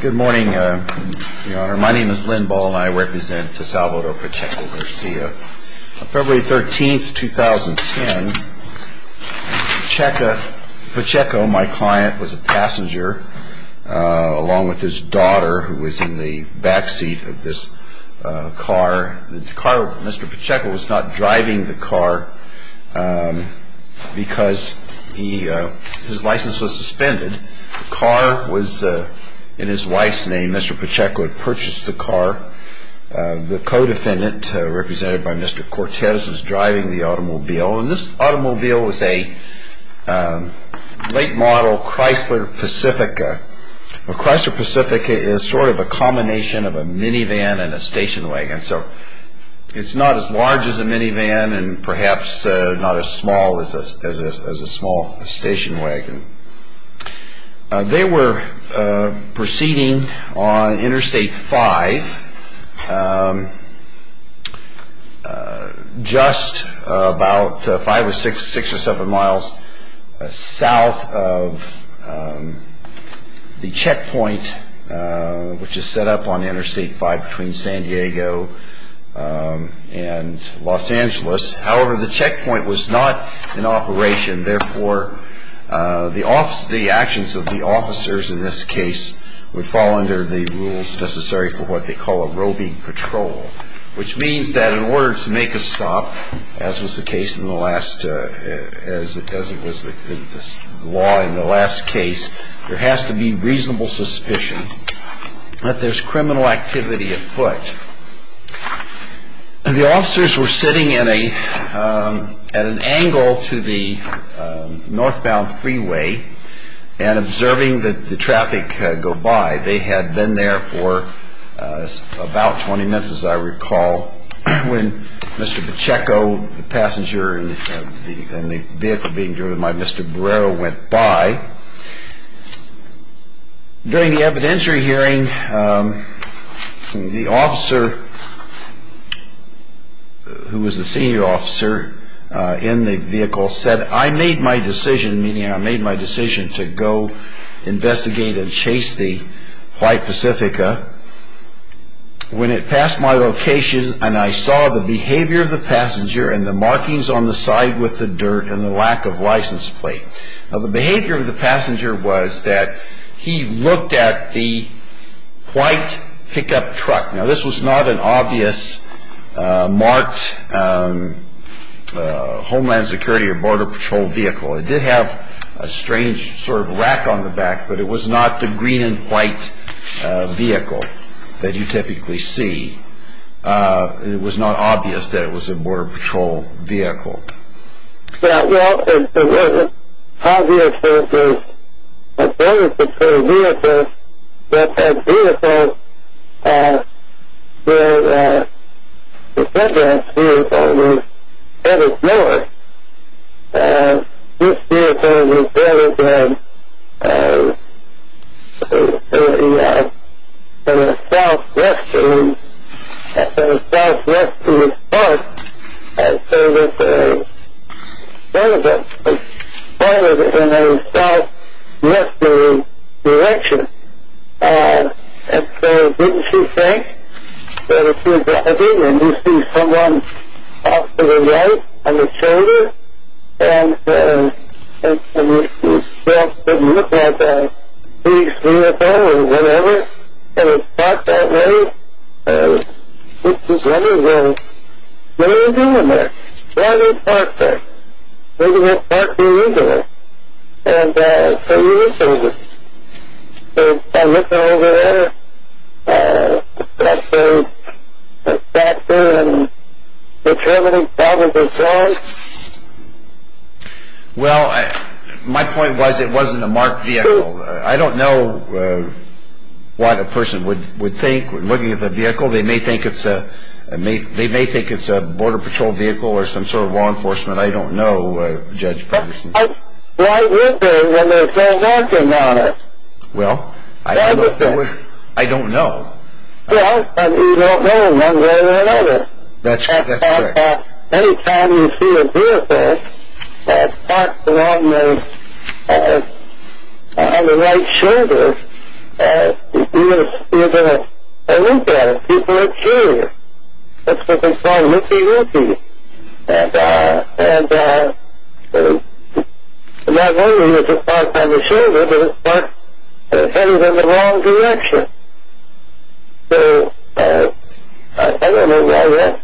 Good morning, Your Honor. My name is Lynn Ball and I represent Salvador Pacheco-Garcia. On February 13, 2010, Pacheco, my client, was a passenger along with his daughter who was in the backseat of this car. Mr. Pacheco was not driving the car because his license was suspended. The car was in his wife's name. Mr. Pacheco had purchased the car. The co-defendant, represented by Mr. Cortez, was driving the automobile. This automobile was a late model Chrysler Pacifica. Chrysler Pacifica is sort of a combination of a minivan and a station wagon. It's not as large as a minivan and perhaps not as small as a small station wagon. They were proceeding on Interstate 5, just about 5 or 6 or 7 miles south of the checkpoint which is set up on Interstate 5 between San Diego and Los Angeles. However, the checkpoint was not in operation. Therefore, the actions of the officers in this case would fall under the rules necessary for what they call a robing patrol, which means that in order to make a stop, as was the case in the last, as it was the law in the last case, there has to be reasonable suspicion that there's criminal activity at foot. The officers were sitting at an angle to the northbound freeway and observing the traffic go by. They had been there for about 20 minutes, as I recall, when Mr. Pacheco, the passenger in the vehicle being driven by Mr. Barrero, went by. During the evidentiary hearing, the officer who was the senior officer in the vehicle said, I made my decision, meaning I made my decision to go investigate and chase the White Pacifica when it passed my location and I saw the behavior of the passenger and the markings on the side with the dirt and the lack of license plate. Now, the behavior of the passenger was that he looked at the white pickup truck. Now, this was not an obvious marked Homeland Security or Border Patrol vehicle. It did have a strange sort of rack on the back, but it was not the green and white vehicle that you typically see. It was not obvious that it was a Border Patrol vehicle. Now, while it was not obvious that it was a Border Patrol vehicle, that vehicle with the red rack vehicle was headed north. This vehicle was headed in a southwesterly direction. And so, didn't you think that if you were driving and you see someone off to the right on the shoulder, and it didn't look like a police vehicle or whatever, and it parked that way, you'd be wondering, well, what are you doing there? Why do you park there? Why do you park there either? And so you were thinking, well, I'm looking over there, and I'm going to park there and determine if that was a crime? Well, my point was it wasn't a marked vehicle. I don't know what a person would think looking at the vehicle. They may think it's a Border Patrol vehicle or some sort of law enforcement. I don't know, Judge Patterson. Well, I wonder when they're still working on it. Well, I don't know. Well, you don't know one way or another. That's correct. Any time you see a vehicle parked along the right shoulder, you're going to look at it. People are curious. That's what they call looking at you. And not only is it parked on the shoulder, but it's parked and headed in the wrong direction. So, I don't know why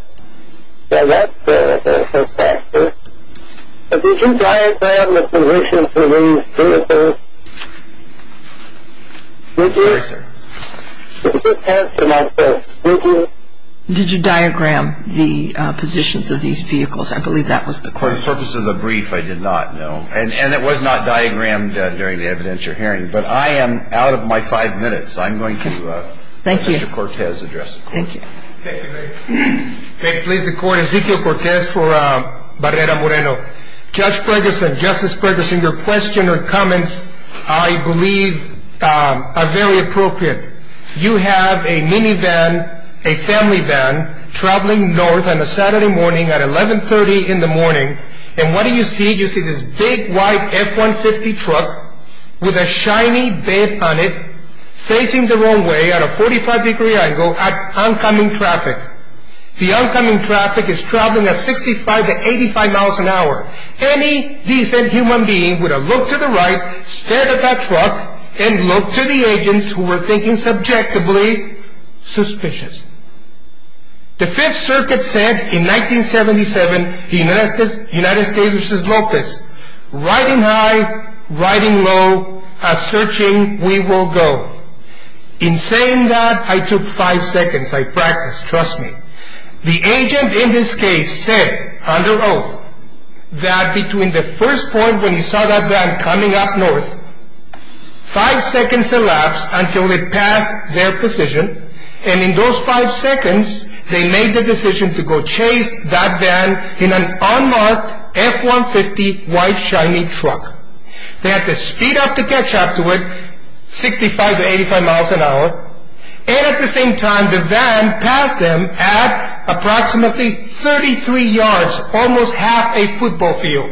that's so fascinating. Did you diagram the positions of these vehicles? Yes, sir. Judge Patterson, I said, did you? Did you diagram the positions of these vehicles? I believe that was the question. For the purpose of the brief, I did not, no. And it was not diagrammed during the evidentiary hearing. But I am out of my five minutes. I'm going to let Mr. Cortez address the court. Thank you. May it please the Court, Ezequiel Cortez for Barrera Moreno. Judge Patterson, Justice Patterson, your question or comments, I believe, are very appropriate. You have a minivan, a family van, traveling north on a Saturday morning at 1130 in the morning, and what do you see? You see this big white F-150 truck with a shiny bed on it, facing the wrong way at a 45 degree angle at oncoming traffic. The oncoming traffic is traveling at 65 to 85 miles an hour. Any decent human being would have looked to the right, stared at that truck, and looked to the agents who were thinking subjectively, suspicious. The Fifth Circuit said in 1977, United States v. Lopez, riding high, riding low, as searching we will go. In saying that, I took five seconds. I practiced, trust me. The agent in this case said, under oath, that between the first point when he saw that van coming up north, five seconds elapsed until it passed their position, and in those five seconds, they made the decision to go chase that van in an unmarked F-150 white shiny truck. They had to speed up to catch up to it, 65 to 85 miles an hour, and at the same time, the van passed them at approximately 33 yards, almost half a football field.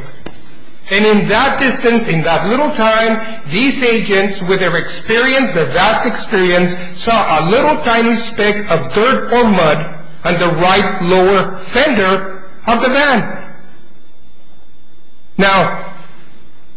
And in that distance, in that little time, these agents, with their experience, their vast experience, saw a little tiny speck of dirt or mud on the right lower fender of the van. Now,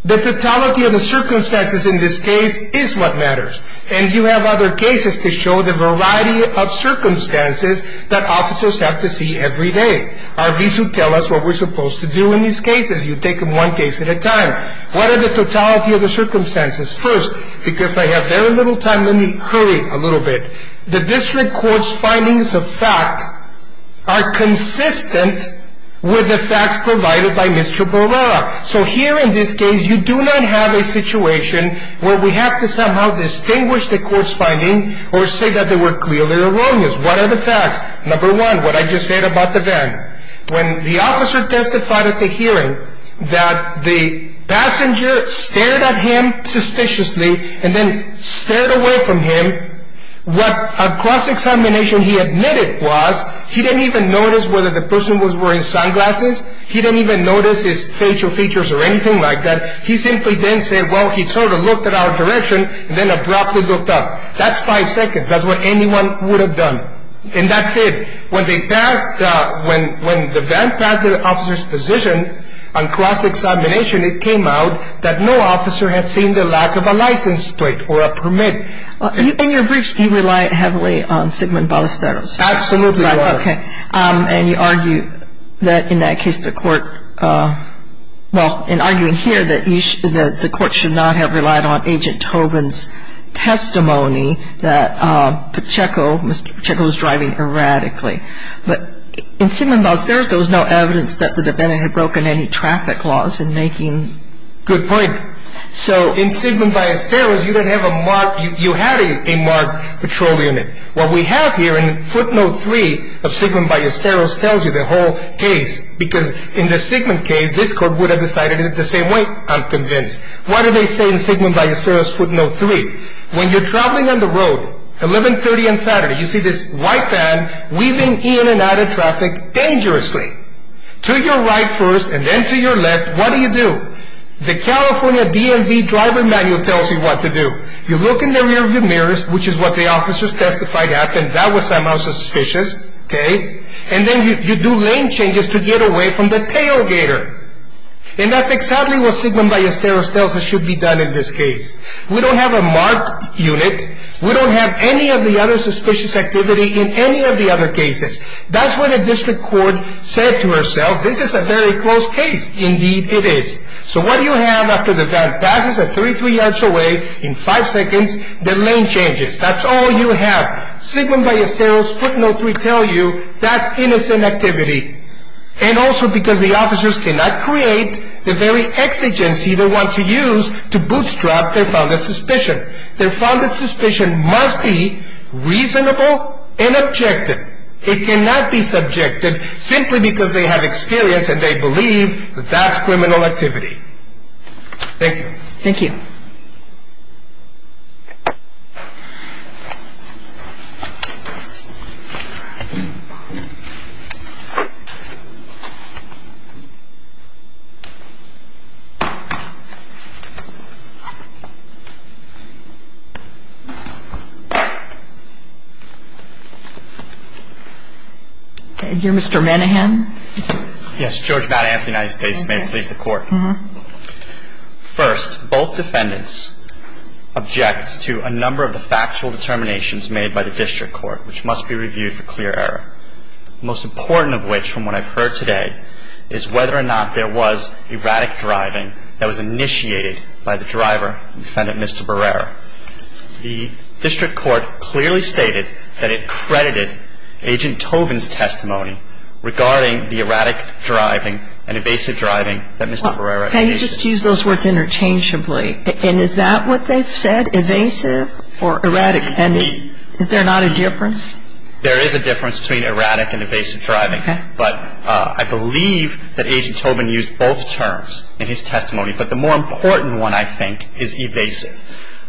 the totality of the circumstances in this case is what matters, and you have other cases to show the variety of circumstances that officers have to see every day. RVs will tell us what we're supposed to do in these cases. You take them one case at a time. What are the totality of the circumstances? First, because I have very little time, let me hurry a little bit. The district court's findings of fact are consistent with the facts provided by Mr. Barbara. So here in this case, you do not have a situation where we have to somehow distinguish the court's finding or say that they were clearly erroneous. What are the facts? Number one, what I just said about the van. When the officer testified at the hearing that the passenger stared at him suspiciously and then stared away from him, what a cross-examination he admitted was, he didn't even notice whether the person was wearing sunglasses. He didn't even notice his facial features or anything like that. He simply then said, well, he sort of looked at our direction and then abruptly looked up. That's five seconds. That's what anyone would have done. And that's it. When the van passed the officer's position on cross-examination, it came out that no officer had seen the lack of a license plate or a permit. In your briefs, do you rely heavily on Sigmund Ballesteros? Absolutely, Your Honor. Okay. And you argue that in that case the court, well, in arguing here, that the court should not have relied on Agent Tobin's testimony that Pacheco, Mr. Pacheco was driving erratically. But in Sigmund Ballesteros, there was no evidence that the defendant had broken any traffic laws in making. Good point. So in Sigmund Ballesteros, you had a marked patrol unit. What we have here in footnote 3 of Sigmund Ballesteros tells you the whole case because in the Sigmund case, this court would have decided it the same way, I'm convinced. What do they say in Sigmund Ballesteros footnote 3? When you're traveling on the road, 1130 on Saturday, you see this white van weaving in and out of traffic dangerously. To your right first and then to your left, what do you do? The California DMV driver manual tells you what to do. You look in the rearview mirrors, which is what the officers testified happened. That was somehow suspicious, okay? And then you do lane changes to get away from the tailgater. And that's exactly what Sigmund Ballesteros tells us should be done in this case. We don't have a marked unit. We don't have any of the other suspicious activity in any of the other cases. That's what the district court said to herself. This is a very close case. Indeed, it is. So what do you have after the van passes at 33 yards away in 5 seconds, the lane changes. That's all you have. Sigmund Ballesteros footnote 3 tells you that's innocent activity. And also because the officers cannot create the very exigency they want to use to bootstrap their founded suspicion. Their founded suspicion must be reasonable and objective. It cannot be subjective simply because they have experience and they believe that that's criminal activity. Thank you. Thank you. All right. All right. We'll go to court. We'll go to Mr. Manahan. Mr. Manahan, please proceed. Thank you. You're Mr. Manahan? Yes, George Manahan of the United States, may it please the Court. Uh-huh. First, both defendants object to a number of the factual determinations made by the district court, which must be reviewed for clear error. Most important of which, from what I've heard today, is whether or not there was erratic driving that was initiated by the driver, defendant Mr. Barrera. The district court clearly stated that it credited Agent Tobin's testimony regarding the erratic driving and evasive driving that Mr. Barrera initiated. Okay. You just used those words interchangeably. And is that what they've said, evasive or erratic? And is there not a difference? There is a difference between erratic and evasive driving. Okay. But I believe that Agent Tobin used both terms in his testimony. But the more important one, I think, is evasive.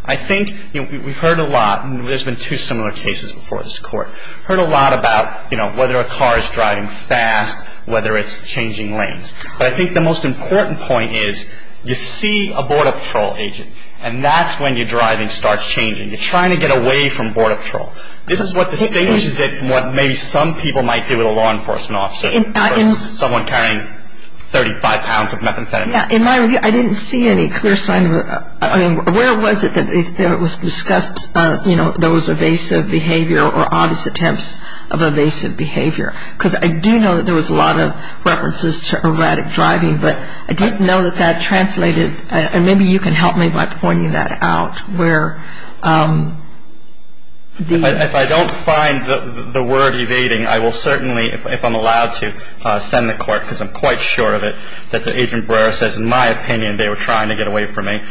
I think we've heard a lot, and there's been two similar cases before this Court, heard a lot about, you know, whether a car is driving fast, whether it's changing lanes. But I think the most important point is you see a border patrol agent, and that's when your driving starts changing. You're trying to get away from border patrol. This is what distinguishes it from what maybe some people might do with a law enforcement officer versus someone carrying 35 pounds of methamphetamine. In my review, I didn't see any clear sign of it. I mean, where was it that it was discussed, you know, there was evasive behavior or obvious attempts of evasive behavior? Because I do know that there was a lot of references to erratic driving, but I didn't know that that translated. And maybe you can help me by pointing that out where the... If I don't find the word evading, I will certainly, if I'm allowed to, send the court, because I'm quite sure of it, that Agent Brera says, in my opinion, they were trying to get away from me.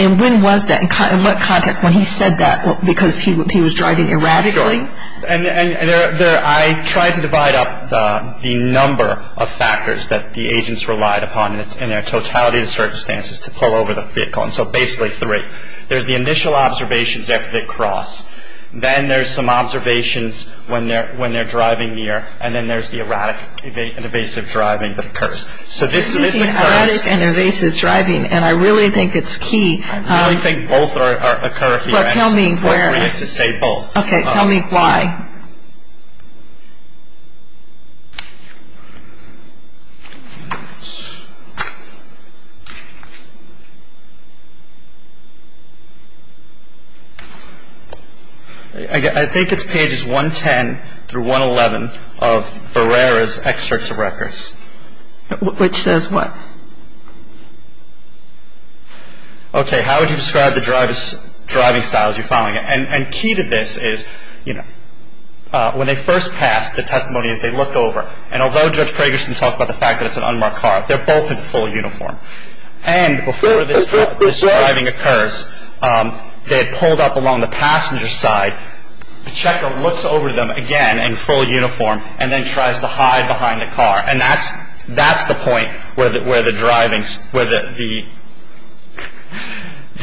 And when was that, in what context, when he said that because he was driving erratically? And I tried to divide up the number of factors that the agents relied upon in their totality of circumstances to pull over the vehicle. And so basically three. There's the initial observations after they cross. Then there's some observations when they're driving near, and then there's the erratic and evasive driving that occurs. So this occurs... This is erratic and evasive driving, and I really think it's key... I really think both occur here, and it's appropriate to say both. Okay. Tell me why. I think it's pages 110 through 111 of Brera's excerpts of records. Which says what? Okay. How would you describe the driving styles you're following? And key to this is, you know, when they first pass, the testimony is they look over. And although Judge Pragerson talked about the fact that it's an unmarked car, they're both in full uniform. And before this driving occurs, they had pulled up along the passenger side. The checker looks over to them again in full uniform and then tries to hide behind the car. And that's the point where the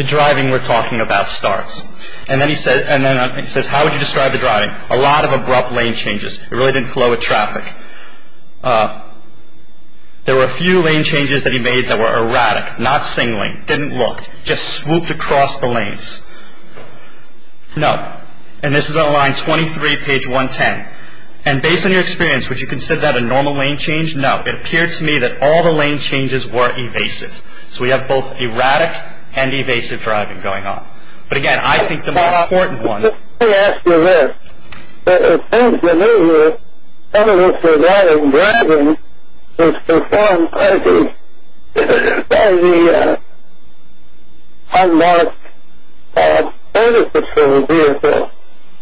driving we're talking about starts. And then he says, how would you describe the driving? A lot of abrupt lane changes. It really didn't flow with traffic. There were a few lane changes that he made that were erratic, not singling. Didn't look. Just swooped across the lanes. No. And this is on line 23, page 110. And based on your experience, would you consider that a normal lane change? No. It appeared to me that all the lane changes were evasive. So we have both erratic and evasive driving going on. But, again, I think the more important ones. Let me ask you this. It seems to me that some of this erratic driving is performed by the unmarked service patrol vehicle.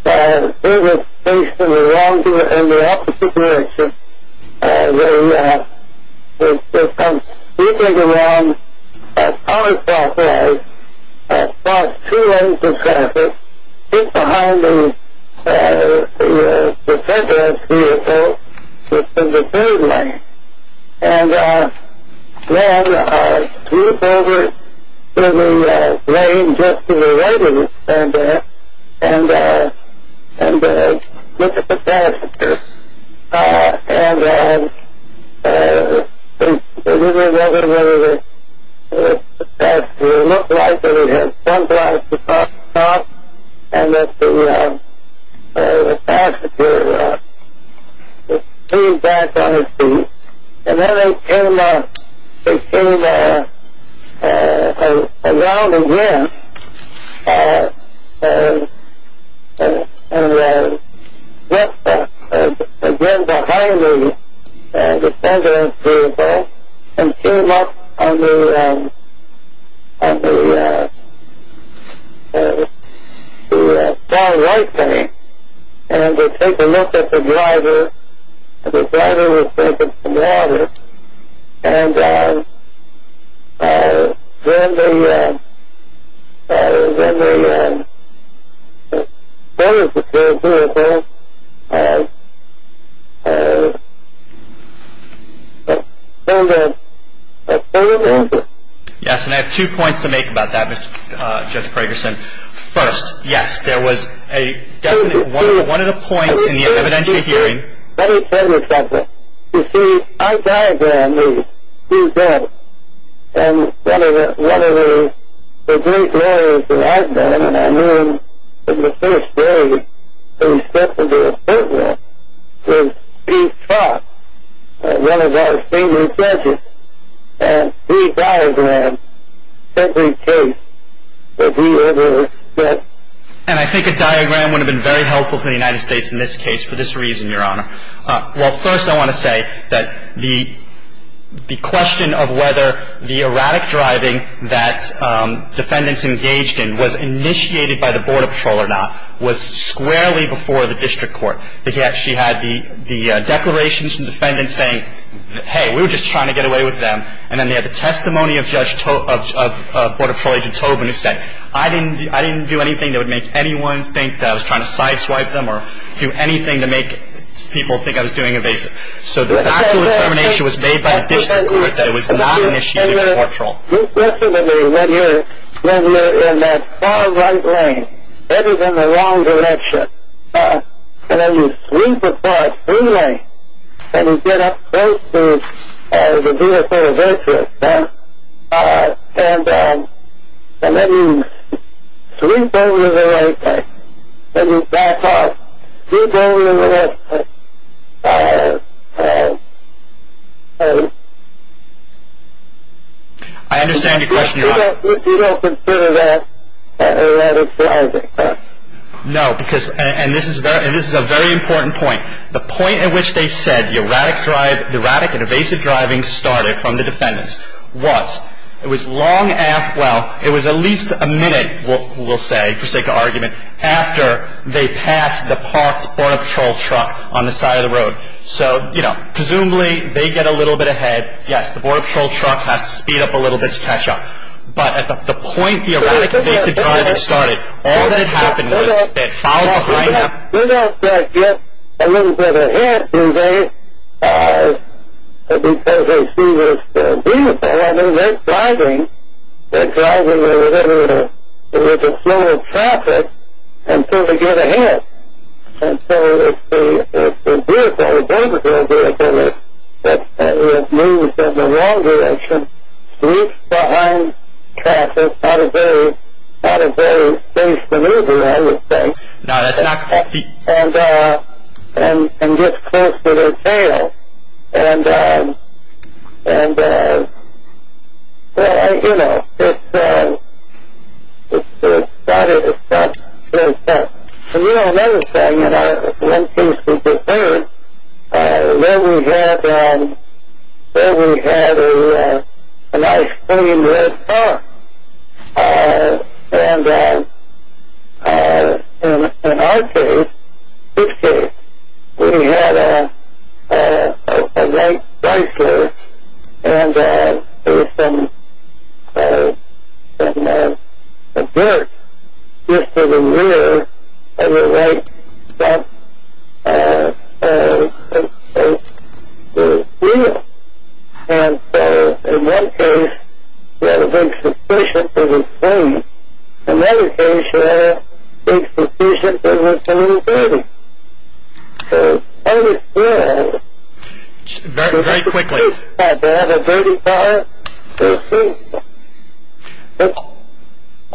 It was stationed in the opposite direction. They would come streaking along a counterclockwise, across two lanes of traffic, just behind the center of the vehicle, which is the third lane. And then swooped over to the lane just to the right of the center and looked at the passenger. And the passenger looked like he had jumped out of the car and the passenger leaned back on his feet. And then they came around again and went behind the passenger's vehicle and came up on the far right lane. And they took a look at the driver. And the driver was taking some water. And then they noticed that the service patrol vehicle had pulled over. Yes. And I have two points to make about that, Judge Pragerson. First, yes, there was a definite one of the points in the evidentiary hearing that he said was something. You see, our diagram is two dots. And one of the great lawyers that I've known and I knew him from the first day that he stepped into the courtroom was Steve Cox, one of our senior judges. And he diagrammed every case that we ever had. And I think a diagram would have been very helpful to the United States in this case for this reason, Your Honor. Well, first I want to say that the question of whether the erratic driving that defendants engaged in was initiated by the Border Patrol or not was squarely before the district court. She had the declarations from defendants saying, hey, we were just trying to get away with them. And then they had the testimony of Border Patrol Agent Tobin who said, I didn't do anything that would make anyone think that I was trying to sideswipe them or do anything to make people think I was doing evasive. So the actual determination was made by the district court that it was not initiated by Border Patrol. You listen to me when you're in that far right lane, that is in the wrong direction. And then you sweep across the lane and you get up close to the beautiful virtue. And then you sweep over the right lane and you back off. You don't consider that erratic driving? No, and this is a very important point. The point at which they said the erratic and evasive driving started from the defendants was, well, it was at least a minute, we'll say, for sake of argument, after they passed the parked Border Patrol truck on the side of the road. So presumably they get a little bit ahead. Yes, the Border Patrol truck has to speed up a little bit to catch up. But at the point the erratic and evasive driving started, all that had happened was they had followed behind them. They don't get a little bit ahead, do they, because they see what's beautiful? I mean, they're driving. They're driving with the flow of traffic until they get ahead. And so it's the vehicle, the Border Patrol vehicle that moves in the wrong direction, sweeps behind traffic on a very spaced maneuver, I would say. No, that's not correct. And gets close to their tail. And, well, you know, it started with that. And, you know, another thing, you know, one thing seems to be clear. Then we had a nice clean red car. And in our case, his case, we had a white Chrysler. And there was some dirt just to the rear of the white truck. And so in one case, we had a big suspicion that it was clean. In another case, we had a big suspicion that it was a little dirty. So I was there. Very quickly. I had a dirty car.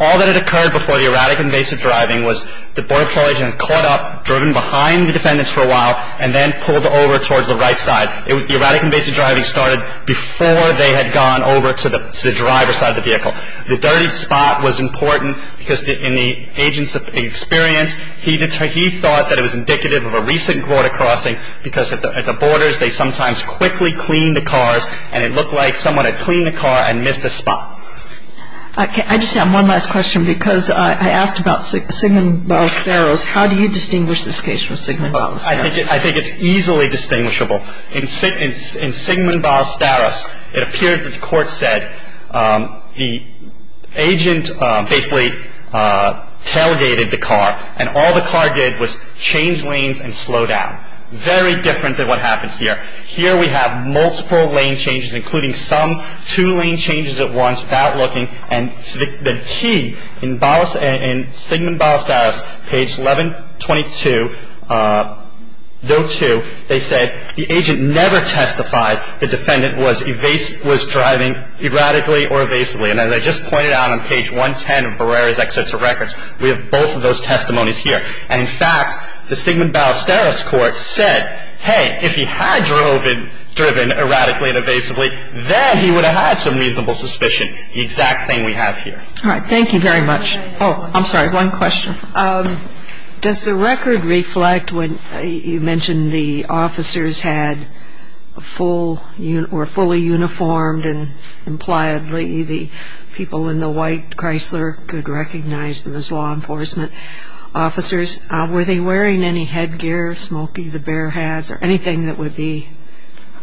All that had occurred before the erratic invasive driving was the Border Patrol agent caught up, driven behind the defendants for a while, and then pulled over towards the right side. The erratic invasive driving started before they had gone over to the driver's side of the vehicle. The dirty spot was important because in the agent's experience, he thought that it was indicative of a recent border crossing because at the borders, they sometimes quickly clean the cars, and it looked like someone had cleaned the car and missed a spot. I just have one last question because I asked about Sigmund Ballesteros. How do you distinguish this case from Sigmund Ballesteros? I think it's easily distinguishable. In Sigmund Ballesteros, it appeared that the court said the agent basically tailgated the car and all the car did was change lanes and slow down. Very different than what happened here. Here we have multiple lane changes, including some two lane changes at once without looking, and the key in Sigmund Ballesteros, page 1122, no. 2, they said the agent never testified the defendant was driving erratically or evasively. And as I just pointed out on page 110 of Barrera's excerpts of records, we have both of those testimonies here. And in fact, the Sigmund Ballesteros court said, hey, if he had driven erratically and evasively, then he would have had some reasonable suspicion, the exact thing we have here. All right. Thank you very much. Oh, I'm sorry. One question. Does the record reflect when you mentioned the officers were fully uniformed and impliedly the people in the white Chrysler could recognize them as law enforcement officers, were they wearing any headgear, smoky, the bear hats, or anything that would be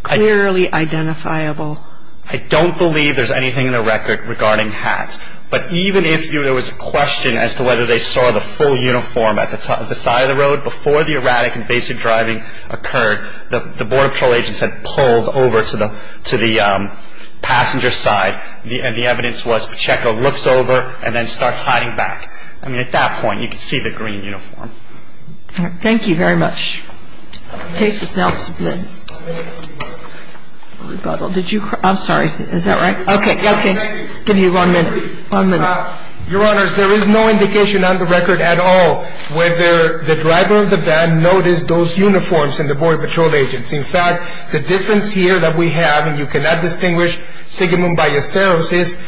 clearly identifiable? I don't believe there's anything in the record regarding hats. But even if there was a question as to whether they saw the full uniform at the side of the road, before the erratic and evasive driving occurred, the border patrol agents had pulled over to the passenger side, and the evidence was Pacheco looks over and then starts hiding back. I mean, at that point, you could see the green uniform. All right. Thank you very much. The case is now split. Did you hear? I'm sorry. Is that right? Okay. Okay. Give me one minute. One minute. Your Honors, there is no indication on the record at all whether the driver of the van noticed those uniforms in the border patrol agents. In fact, the difference here that we have, and you cannot distinguish Sigmund by hysteresis,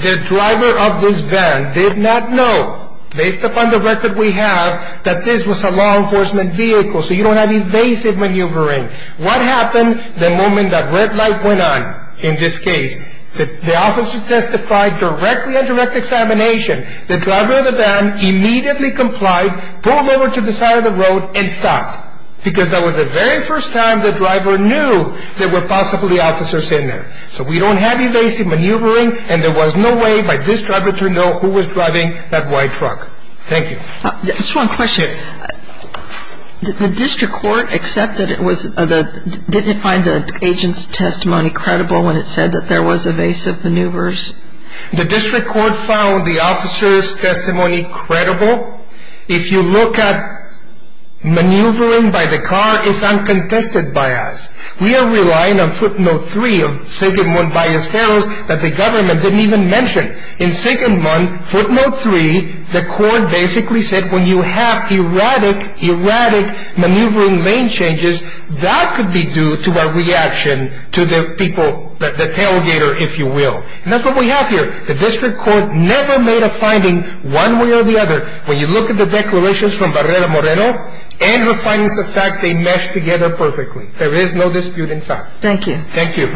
the driver of this van did not know, based upon the record we have, that this was a law enforcement vehicle, so you don't have evasive maneuvering. What happened the moment that red light went on in this case? The officer testified directly on direct examination. The driver of the van immediately complied, pulled over to the side of the road, and stopped, because that was the very first time the driver knew there were possibly officers in there. So we don't have evasive maneuvering, and there was no way by this driver to know who was driving that white truck. Thank you. Just one question. Did the district court accept that it was the – didn't it find the agent's testimony credible when it said that there was evasive maneuvers? The district court found the officer's testimony credible. If you look at maneuvering by the car, it's uncontested by us. We are relying on footnote three of Sigmund Ballesteros that the government didn't even mention. In Sigmund, footnote three, the court basically said when you have erratic, erratic maneuvering lane changes, that could be due to a reaction to the people – the tailgater, if you will. And that's what we have here. The district court never made a finding one way or the other. When you look at the declarations from Barrera-Moreno and her findings of fact, they mesh together perfectly. There is no dispute in fact. Thank you. Thank you. Thank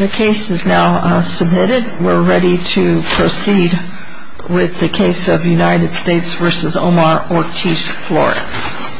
you. The case is now submitted. We're ready to proceed with the case of United States v. Omar Ortiz-Flores.